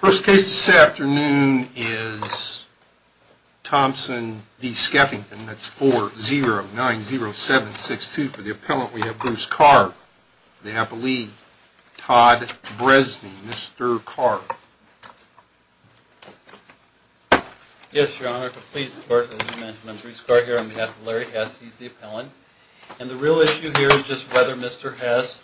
First case this afternoon is Thompson v. Skeffington. That's 4-0-9-0-7-6-2. For the appellant, we have Bruce Carr. For the appellee, Todd Bresney. Mr. Carr. Yes, Your Honor. As you mentioned, I'm Bruce Carr here on behalf of Larry Hess. He's the appellant. And the real issue here is just whether Mr. Hess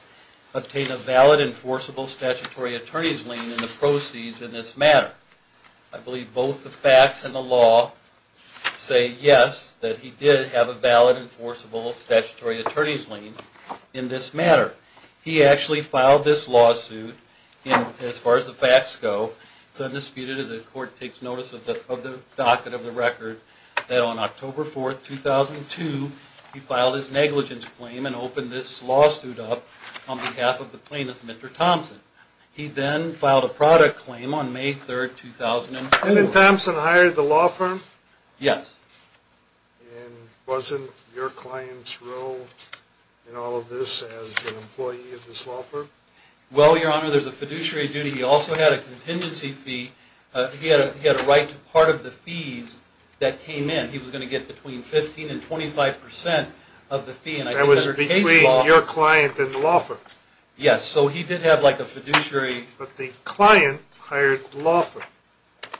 obtained a valid enforceable statutory attorney's lien in the proceeds in this matter. I believe both the facts and the law say yes, that he did have a valid enforceable statutory attorney's lien in this matter. He actually filed this lawsuit, and as far as the facts go, it's undisputed that the court takes notice of the docket of the record, that on October 4, 2002, he filed his negligence claim and opened this lawsuit up on behalf of the plaintiff, Mr. Thompson. He then filed a product claim on May 3, 2002. And then Thompson hired the law firm? Yes. And wasn't your client's role in all of this as an employee of this law firm? Well, Your Honor, there's a fiduciary duty. He also had a contingency fee. He had a right to part of the fees that came in. He was going to get between 15 and 25 percent of the fee. That was between your client and the law firm? Yes. So he did have like a fiduciary... But the client hired the law firm?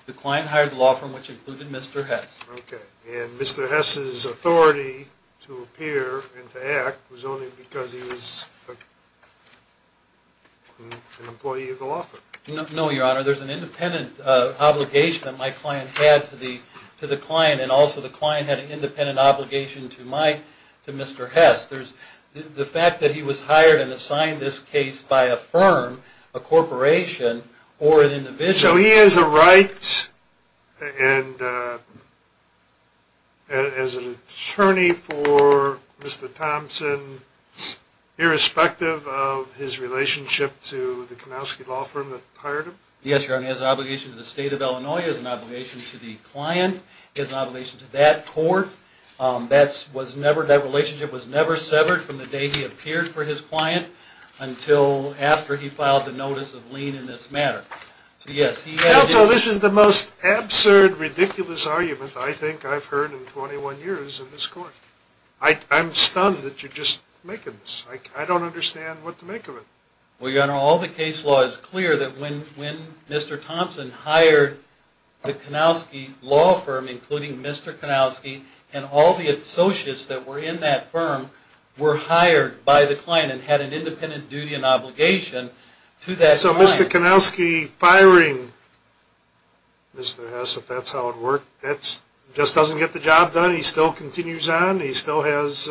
The client hired the law firm, which included Mr. Hess. Okay. And Mr. Hess's authority to appear and to act was only because he was an employee of the law firm? No, Your Honor. There's an independent obligation that my client had to the client, and also the client had an independent obligation to Mr. Hess. The fact that he was hired and assigned this case by a firm, a corporation, or an individual... So he has a right as an attorney for Mr. Thompson, irrespective of his relationship to the Kanowski law firm that hired him? Yes, Your Honor. He has an obligation to the state of Illinois. He has an obligation to the client. He has an obligation to that court. That relationship was never severed from the day he appeared for his client until after he filed the notice of lien in this matter. Counsel, this is the most absurd, ridiculous argument I think I've heard in 21 years in this court. I'm stunned that you're just making this. I don't understand what to make of it. Well, Your Honor, all the case law is clear that when Mr. Thompson hired the Kanowski law firm, including Mr. Kanowski, and all the associates that were in that firm were hired by the client and had an independent duty and obligation to that client... So Mr. Kanowski firing Mr. Hess, if that's how it worked, just doesn't get the job done? He still continues on? He still has...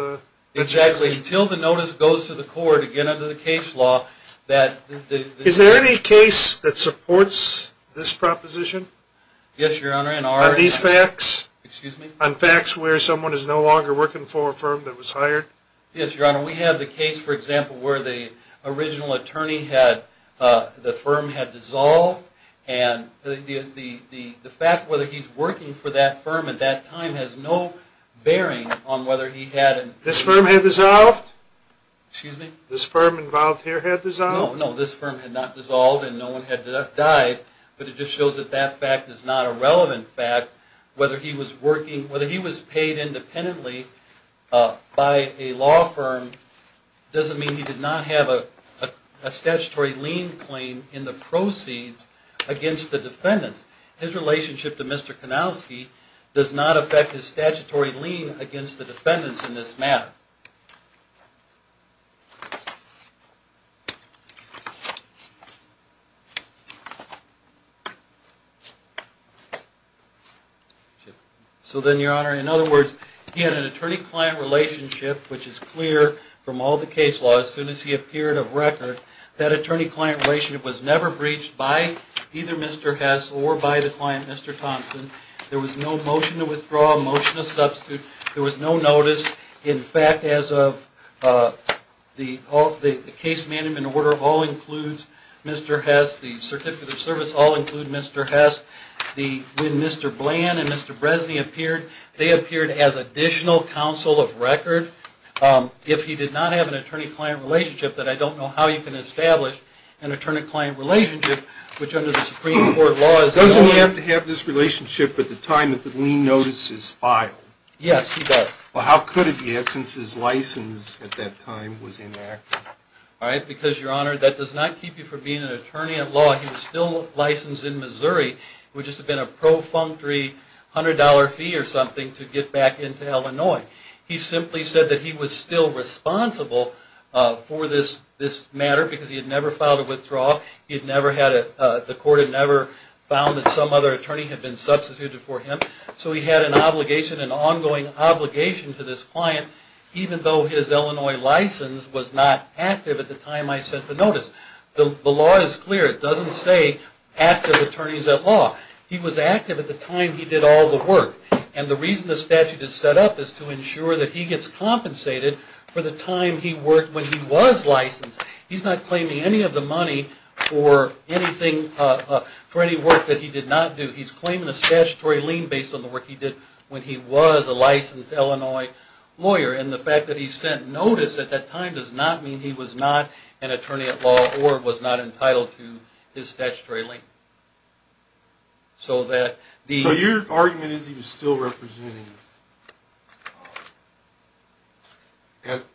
Exactly. Until the notice goes to the court, again under the case law, that... Is there any case that supports this proposition? Yes, Your Honor. Are these facts? Excuse me? On facts where someone is no longer working for a firm that was hired? Yes, Your Honor. We have the case, for example, where the original attorney had... the firm had dissolved, and the fact whether he's working for that firm at that time has no bearing on whether he had... This firm had dissolved? Excuse me? This firm involved here had dissolved? No, no. This firm had not dissolved and no one had died, but it just shows that that fact is not a relevant fact. Whether he was working... whether he was paid independently by a law firm doesn't mean he did not have a statutory lien claim in the proceeds against the defendants. His relationship to Mr. Kanowski does not affect his statutory lien against the defendants in this matter. So then, Your Honor, in other words, he had an attorney-client relationship, which is clear from all the case law. As soon as he appeared of record, that attorney-client relationship was never breached by either Mr. Hess or by the client, Mr. Thompson. There was no motion to withdraw, motion to substitute. There was no notice. In fact, as of... the case management order all includes Mr. Hess. The certificate of service all includes Mr. Hess. When Mr. Bland and Mr. Bresny appeared, they appeared as additional counsel of record. If he did not have an attorney-client relationship, then I don't know how you can establish an attorney-client relationship, which under the Supreme Court law is... Doesn't he have to have this relationship at the time that the lien notice is filed? Yes, he does. Well, how could he have since his license at that time was inactive? Because, Your Honor, that does not keep you from being an attorney at law. He was still licensed in Missouri. It would just have been a profoundly $100 fee or something to get back into Illinois. He simply said that he was still responsible for this matter because he had never filed a withdrawal. The court had never found that some other attorney had been substituted for him. So he had an obligation, an ongoing obligation to this client, even though his Illinois license was not active at the time I sent the notice. The law is clear. It doesn't say active attorneys at law. He was active at the time he did all the work. And the reason the statute is set up is to ensure that he gets compensated for the time he worked when he was licensed. He's not claiming any of the money for anything... for any work that he did not do. He's claiming a statutory lien based on the work he did when he was a licensed Illinois lawyer. And the fact that he sent notice at that time does not mean he was not an attorney at law or was not entitled to his statutory lien. So that the... So your argument is he was still representing...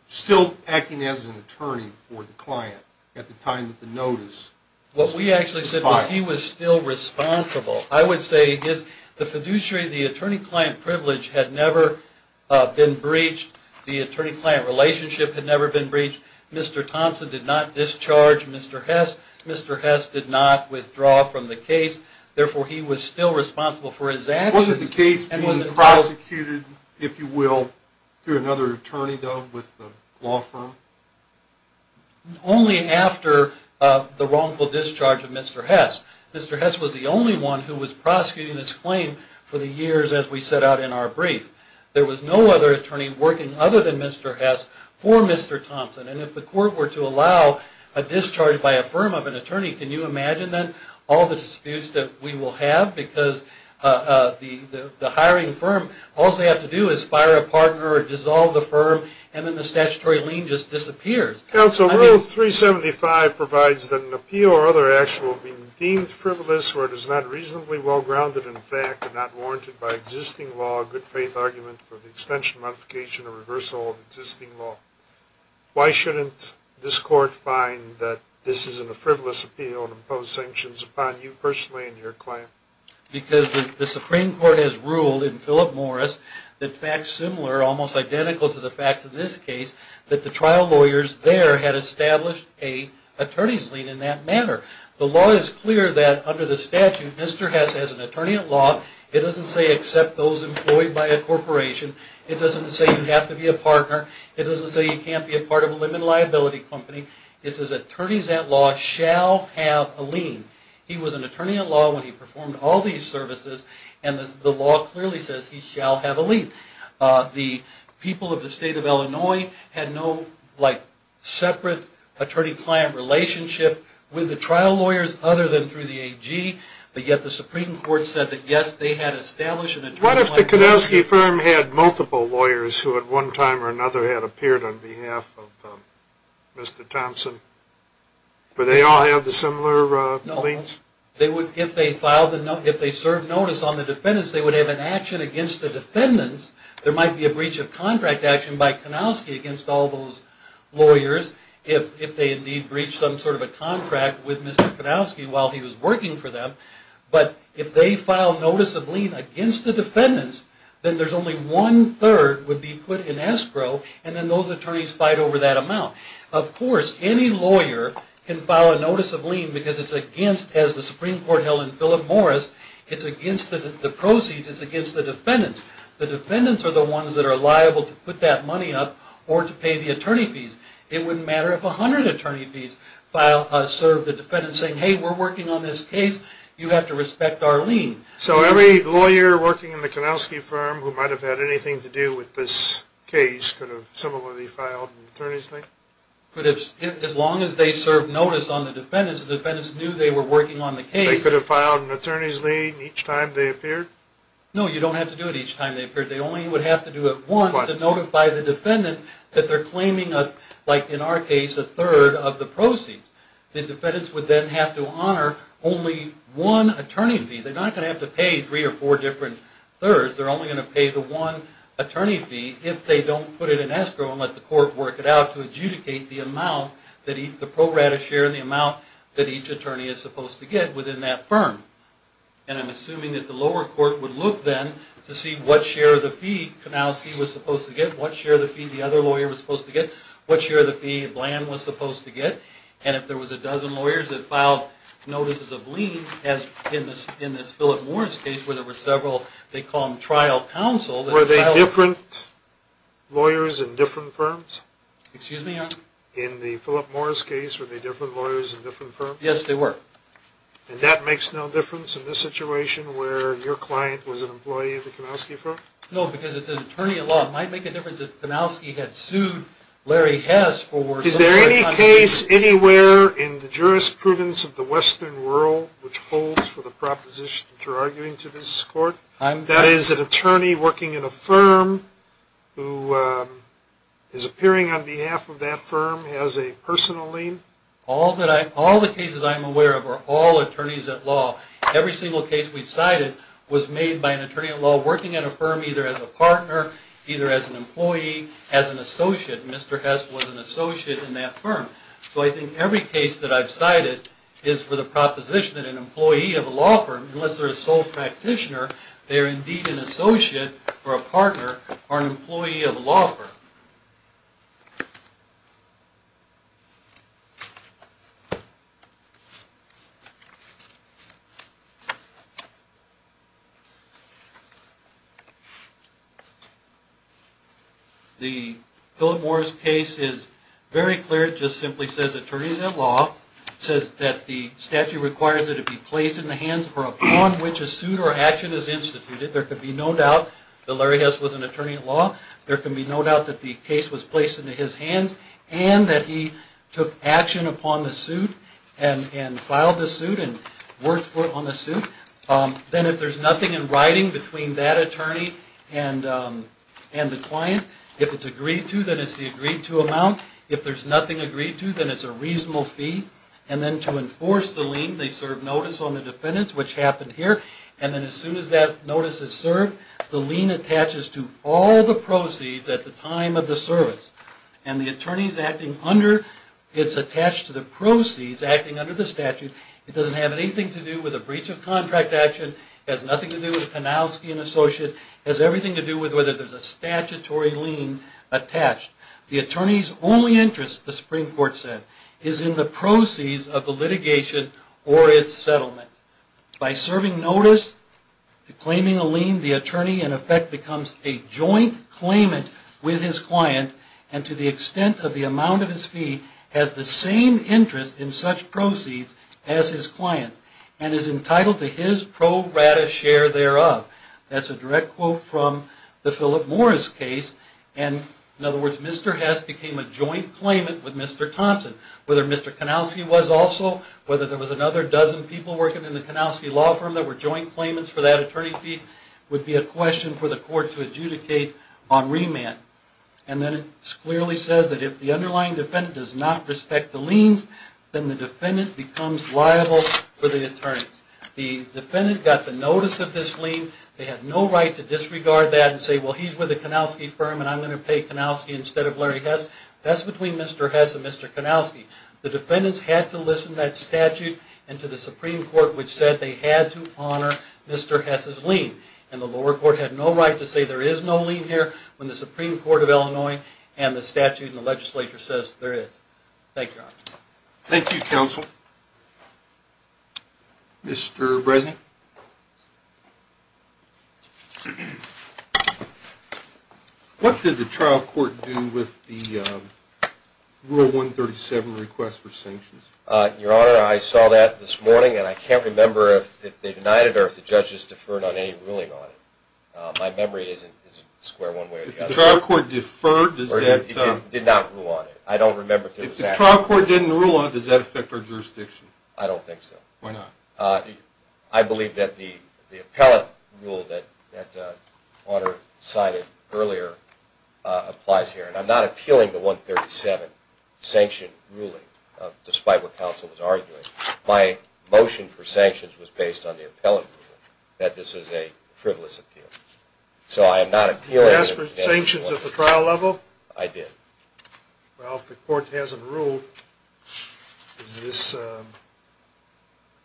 still acting as an attorney for the client at the time that the notice was filed. What we actually said was he was still responsible. I would say his... the fiduciary, the attorney-client privilege had never been breached. The attorney-client relationship had never been breached. Mr. Thompson did not discharge Mr. Hess. Mr. Hess did not withdraw from the case. Therefore, he was still responsible for his actions. Wasn't the case being prosecuted, if you will, through another attorney, though, with the law firm? Only after the wrongful discharge of Mr. Hess. Mr. Hess was the only one who was prosecuting this claim for the years as we set out in our brief. There was no other attorney working other than Mr. Hess for Mr. Thompson. And if the court were to allow a discharge by a firm of an attorney, can you imagine then all the disputes that we will have? Because the hiring firm, all they have to do is fire a partner or dissolve the firm, and then the statutory lien just disappears. Counsel, Rule 375 provides that an appeal or other action will be deemed frivolous where it is not reasonably well-grounded in fact and not warranted by existing law, a good-faith argument for the extension, modification, or reversal of existing law. Why shouldn't this court find that this is a frivolous appeal and impose sanctions upon you personally and your client? Because the Supreme Court has ruled in Philip Morris that facts similar, almost identical to the facts in this case, that the trial lawyers there had established an attorney's lien in that manner. The law is clear that under the statute, Mr. Hess has an attorney-at-law. It doesn't say accept those employed by a corporation. It doesn't say you have to be a partner. It doesn't say you can't be a part of a limited liability company. It says attorneys-at-law shall have a lien. He was an attorney-at-law when he performed all these services, and the law clearly says he shall have a lien. The people of the state of Illinois had no, like, separate attorney-client relationship with the trial lawyers other than through the AG, but yet the Supreme Court said that, yes, they had established an attorney-client relationship. What if the Kodowsky firm had multiple lawyers who at one time or another had appeared on behalf of Mr. Thompson? Would they all have the similar liens? No. If they served notice on the defendants, they would have an action against the defendants. There might be a breach of contract action by Kodowsky against all those lawyers, if they indeed breached some sort of a contract with Mr. Kodowsky while he was working for them. But if they filed notice of lien against the defendants, then there's only one-third would be put in escrow, and then those attorneys fight over that amount. Of course, any lawyer can file a notice of lien because it's against, as the Supreme Court held in Philip Morris, it's against the proceeds, it's against the defendants. The defendants are the ones that are liable to put that money up or to pay the attorney fees. It wouldn't matter if 100 attorney fees served the defendants saying, hey, we're working on this case, you have to respect our lien. So every lawyer working in the Kodowsky firm who might have had anything to do with this case could have similarly filed an attorney's lien? As long as they served notice on the defendants, the defendants knew they were working on the case. They could have filed an attorney's lien each time they appeared? No, you don't have to do it each time they appeared. They only would have to do it once to notify the defendant that they're claiming, like in our case, a third of the proceeds. The defendants would then have to honor only one attorney fee. They're not going to have to pay three or four different thirds. They're only going to pay the one attorney fee if they don't put it in escrow and let the court work it out to adjudicate the amount, the pro rata share and the amount that each attorney is supposed to get within that firm. And I'm assuming that the lower court would look then to see what share of the fee Kodowsky was supposed to get, what share of the fee the other lawyer was supposed to get, what share of the fee Bland was supposed to get. And if there was a dozen lawyers that filed notices of liens, as in this Philip Morris case where there were several, they call them trial counsel. Were they different lawyers in different firms? Excuse me, Your Honor? In the Philip Morris case, were they different lawyers in different firms? Yes, they were. And that makes no difference in this situation where your client was an employee of the Kodowsky firm? No, because it's an attorney at law. It might make a difference if Kodowsky had sued Larry Hess for... Is there any case anywhere in the jurisprudence of the Western world which holds for the proposition that you're arguing to this court? That is an attorney working in a firm who is appearing on behalf of that firm, has a personal lien? All the cases I'm aware of are all attorneys at law. Every single case we've cited was made by an attorney at law working at a firm either as a partner, either as an employee, as an associate. Mr. Hess was an associate in that firm. So I think every case that I've cited is for the proposition that an employee of a law firm, unless they're a sole practitioner, they are indeed an associate or a partner or an employee of a law firm. The Philip Morris case is very clear. It just simply says attorneys at law. It says that the statute requires that it be placed in the hands for upon which a suit or action is instituted. There could be no doubt that Larry Hess was an attorney at law. There can be no doubt that the case was placed into his hands and that he took action upon the suit and filed the suit and worked for it on the suit. Then if there's nothing in writing between that attorney and the client, if it's agreed to, then it's the agreed to amount. If there's nothing agreed to, then it's a reasonable fee. And then to enforce the lien, they serve notice on the defendants, which happened here. And then as soon as that notice is served, the lien attaches to all the proceeds at the time of the service. And the attorney is attached to the proceeds acting under the statute. It doesn't have anything to do with a breach of contract action. It has nothing to do with Panowski, an associate. It has everything to do with whether there's a statutory lien attached. The attorney's only interest, the Supreme Court said, is in the proceeds of the litigation or its settlement. By serving notice, claiming a lien, the attorney in effect becomes a joint claimant with his client and to the extent of the amount of his fee, has the same interest in such proceeds as his client and is entitled to his pro rata share thereof. That's a direct quote from the Philip Morris case. In other words, Mr. Hess became a joint claimant with Mr. Thompson. Whether Mr. Kanowski was also, whether there was another dozen people working in the Kanowski law firm that were joint claimants for that attorney fee would be a question for the court to adjudicate on remand. And then it clearly says that if the underlying defendant does not respect the liens, then the defendant becomes liable for the attorneys. The defendant got the notice of this lien. They had no right to disregard that and say, well, he's with a Kanowski firm and I'm going to pay Kanowski instead of Larry Hess. That's between Mr. Hess and Mr. Kanowski. The defendants had to listen to that statute and to the Supreme Court, which said they had to honor Mr. Hess's lien. And the lower court had no right to say there is no lien here when the Supreme Court of Illinois and the statute and the legislature says there is. Thank you. Thank you, counsel. Mr. Bresnik? Thank you. What did the trial court do with the Rule 137 request for sanctions? Your Honor, I saw that this morning and I can't remember if they denied it or if the judges deferred on any ruling on it. My memory isn't square one way or the other. If the trial court deferred, does that – It did not rule on it. I don't remember if there was that. If the trial court didn't rule on it, does that affect our jurisdiction? I don't think so. Why not? I believe that the appellate rule that Honor cited earlier applies here. And I'm not appealing the 137 sanction ruling, despite what counsel was arguing. My motion for sanctions was based on the appellate rule, that this is a frivolous appeal. So I am not appealing – Did you ask for sanctions at the trial level? I did. Well, if the court hasn't ruled, is this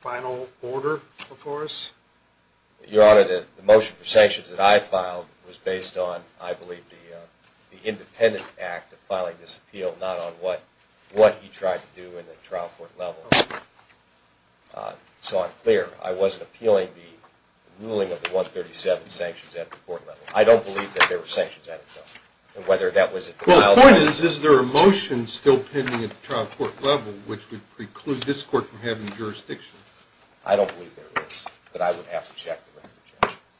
final order before us? Your Honor, the motion for sanctions that I filed was based on, I believe, the independent act of filing this appeal, not on what he tried to do in the trial court level. So I'm clear. I wasn't appealing the ruling of the 137 sanctions at the court level. I don't believe that there were sanctions at it, though. Well, the point is, is there a motion still pending at the trial court level, which would preclude this court from having jurisdiction? I don't believe there is, but I would have to check the record,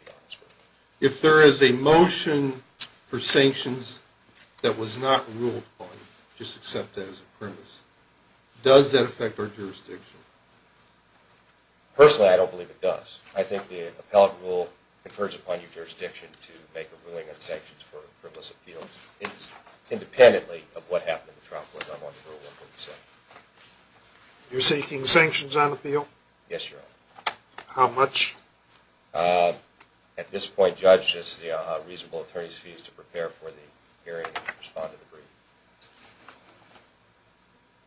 Your Honor. If there is a motion for sanctions that was not ruled on, just accept that as a privilege. Does that affect our jurisdiction? Personally, I don't believe it does. I think the appellate rule confers upon your jurisdiction to make a ruling on sanctions for frivolous appeals. It's independently of what happened at the trial court level under Rule 137. You're seeking sanctions on appeal? Yes, Your Honor. How much? At this point, Judge, this is the reasonable attorney's fees to prepare for the hearing and respond to the brief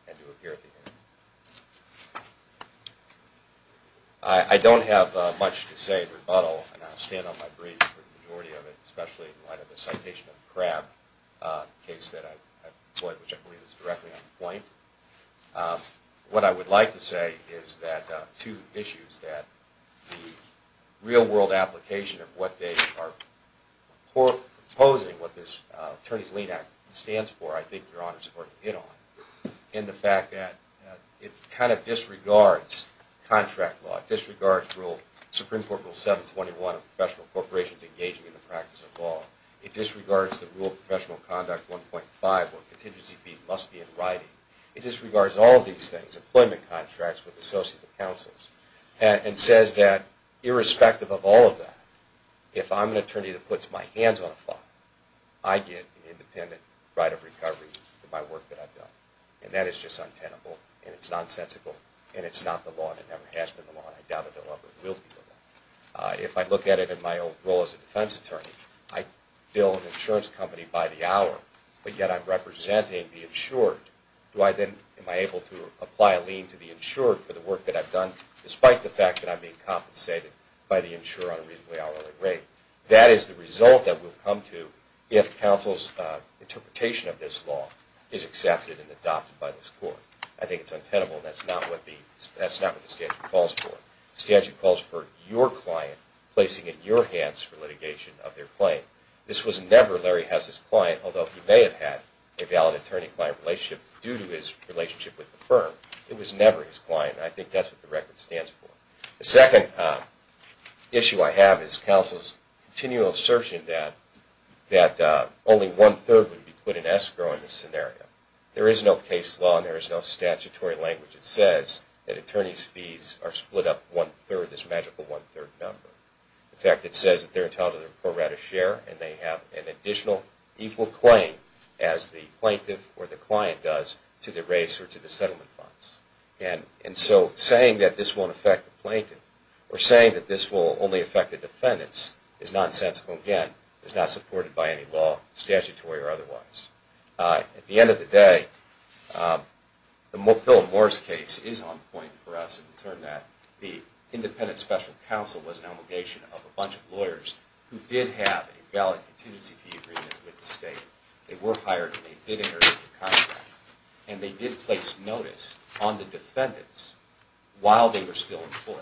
and to appear at the hearing. I don't have much to say in rebuttal, and I'll stand on my brief for the majority of it, especially in light of the citation of the crab case that I've employed, which I believe is directly on the point. What I would like to say is that two issues, that the real-world application of what they are proposing, what this Attorney's Lien Act stands for, I think, Your Honor, is worth a hit on. And the fact that it kind of disregards contract law. It disregards Supreme Court Rule 721 of professional corporations engaging in the practice of law. It disregards the Rule of Professional Conduct 1.5, where contingency fees must be in writing. It disregards all of these things, employment contracts with associate counsels, and says that irrespective of all of that, if I'm an attorney that puts my hands on a file, I get an independent right of recovery for my work that I've done. And that is just untenable, and it's nonsensical, and it's not the law, and it never has been the law, and I doubt it will ever be the law. If I look at it in my role as a defense attorney, I bill an insurance company by the hour, but yet I'm representing the insured. Am I able to apply a lien to the insured for the work that I've done, despite the fact that I'm being compensated by the insurer on a reasonably hourly rate? That is the result that will come to if counsel's interpretation of this law is accepted and adopted by this court. I think it's untenable, and that's not what the statute calls for. The statute calls for your client placing it in your hands for litigation of their claim. This was never Larry Hess's client, although he may have had a valid attorney-client relationship due to his relationship with the firm. It was never his client, and I think that's what the record stands for. The second issue I have is counsel's continual assertion that only one-third would be put in escrow in this scenario. There is no case law, and there is no statutory language that says that attorney's fees are split up one-third, this magical one-third number. In fact, it says that they're entitled to their pro-rata share, and they have an additional equal claim as the plaintiff or the client does to the race or to the settlement funds. And so saying that this won't affect the plaintiff or saying that this will only affect the defendants is nonsensical again. It's not supported by any law, statutory or otherwise. At the end of the day, the Philip Morris case is on point for us in the term that the independent special counsel was an obligation of a bunch of lawyers who did have a valid contingency fee agreement with the state. They were hired, and they did inherit the contract, and they did place notice on the defendants while they were still employed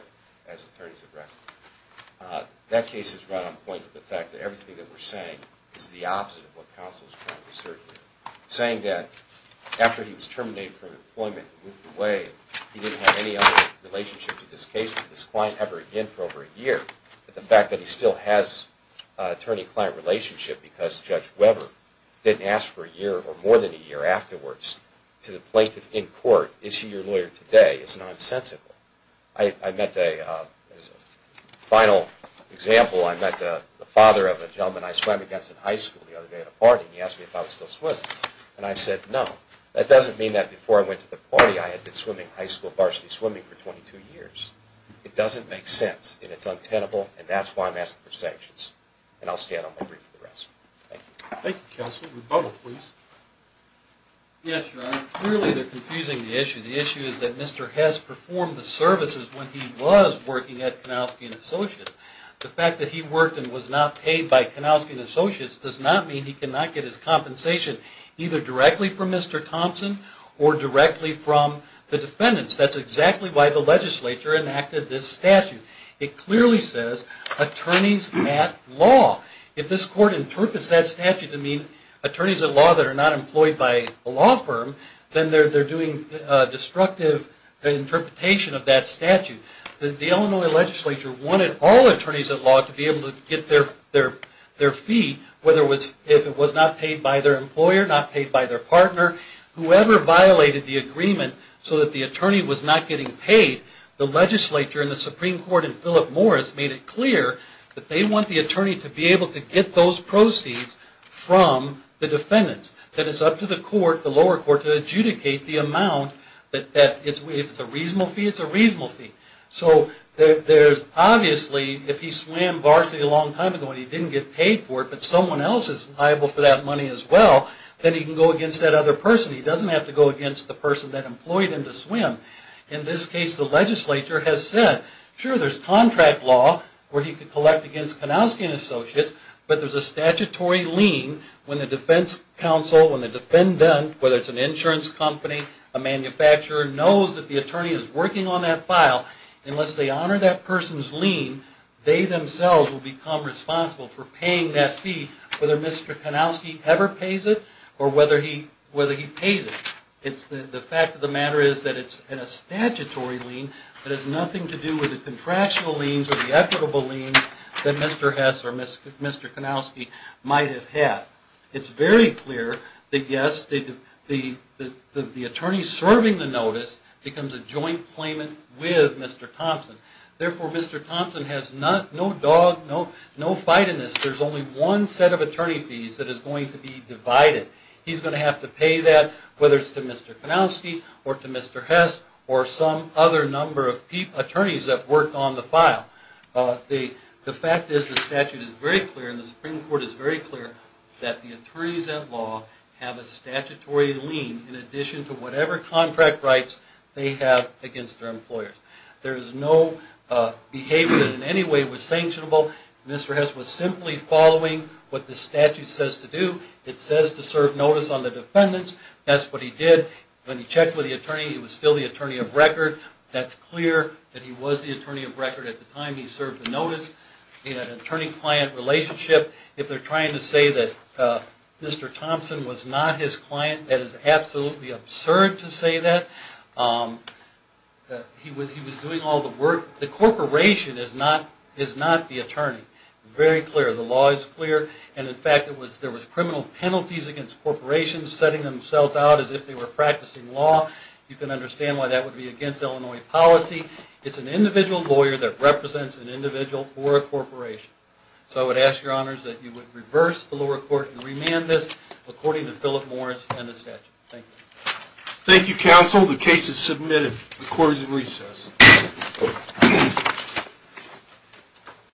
as attorneys at record. That case is right on point for the fact that everything that we're saying is the opposite of what counsel is trying to assert here, saying that after he was terminated from employment and moved away, he didn't have any other relationship to this case or this client ever again for over a year, that the fact that he still has attorney-client relationship because Judge Weber didn't ask for a year or more than a year afterwards to the plaintiff in court, is he your lawyer today, is nonsensical. I met a final example. I met the father of a gentleman I swam against in high school the other day at a party, and he asked me if I was still swimming. And I said no. That doesn't mean that before I went to the party I had been swimming high school varsity swimming for 22 years. It doesn't make sense, and it's untenable, and that's why I'm asking for sanctions. And I'll stand on my brief for the rest. Thank you. Thank you, counsel. Rebuttal, please. Yes, Your Honor. Clearly they're confusing the issue. The issue is that Mr. Hess performed the services when he was working at Kanausky & Associates. The fact that he worked and was not paid by Kanausky & Associates does not mean he cannot get his compensation either directly from Mr. Thompson or directly from the defendants. That's exactly why the legislature enacted this statute. It clearly says attorneys at law. If this court interprets that statute to mean attorneys at law that are not employed by a law firm, then they're doing a destructive interpretation of that statute. The Illinois legislature wanted all attorneys at law to be able to get their fee, whether it was not paid by their employer, not paid by their partner, whoever violated the agreement so that the attorney was not getting paid. The legislature and the Supreme Court and Philip Morris made it clear that they want the attorney to be able to get those proceeds from the defendants. That it's up to the court, the lower court, to adjudicate the amount. If it's a reasonable fee, it's a reasonable fee. So there's obviously, if he swam varsity a long time ago and he didn't get paid for it, but someone else is liable for that money as well, then he can go against that other person. He doesn't have to go against the person that employed him to swim. In this case, the legislature has said, sure, there's contract law where he can collect against Kanowski and Associates, but there's a statutory lien when the defense counsel, when the defendant, whether it's an insurance company, a manufacturer, knows that the attorney is working on that file. Unless they honor that person's lien, they themselves will become responsible for paying that fee, whether Mr. Kanowski ever pays it or whether he pays it. The fact of the matter is that it's a statutory lien that has nothing to do with the contractual liens or the equitable liens that Mr. Hess or Mr. Kanowski might have had. It's very clear that yes, the attorney serving the notice becomes a joint claimant with Mr. Thompson. Therefore, Mr. Thompson has no dog, no fight in this. There's only one set of attorney fees that is going to be divided. He's going to have to pay that, whether it's to Mr. Kanowski or to Mr. Hess or some other number of attorneys that worked on the file. The fact is the statute is very clear and the Supreme Court is very clear that the attorneys at law have a statutory lien in addition to whatever contract rights they have against their employers. There is no behavior that in any way was sanctionable. Mr. Hess was simply following what the statute says to do. It says to serve notice on the defendants. That's what he did. When he checked with the attorney, he was still the attorney of record. That's clear that he was the attorney of record at the time he served the notice. In an attorney-client relationship, if they're trying to say that Mr. Thompson was not his client, that is absolutely absurd to say that. He was doing all the work. The corporation is not the attorney. Very clear. The law is clear. In fact, there was criminal penalties against corporations setting themselves out as if they were practicing law. You can understand why that would be against Illinois policy. It's an individual lawyer that represents an individual or a corporation. So I would ask your honors that you would reverse the lower court and remand this according to Philip Morris and the statute. Thank you. Thank you, counsel. The case is submitted. The court is in recess.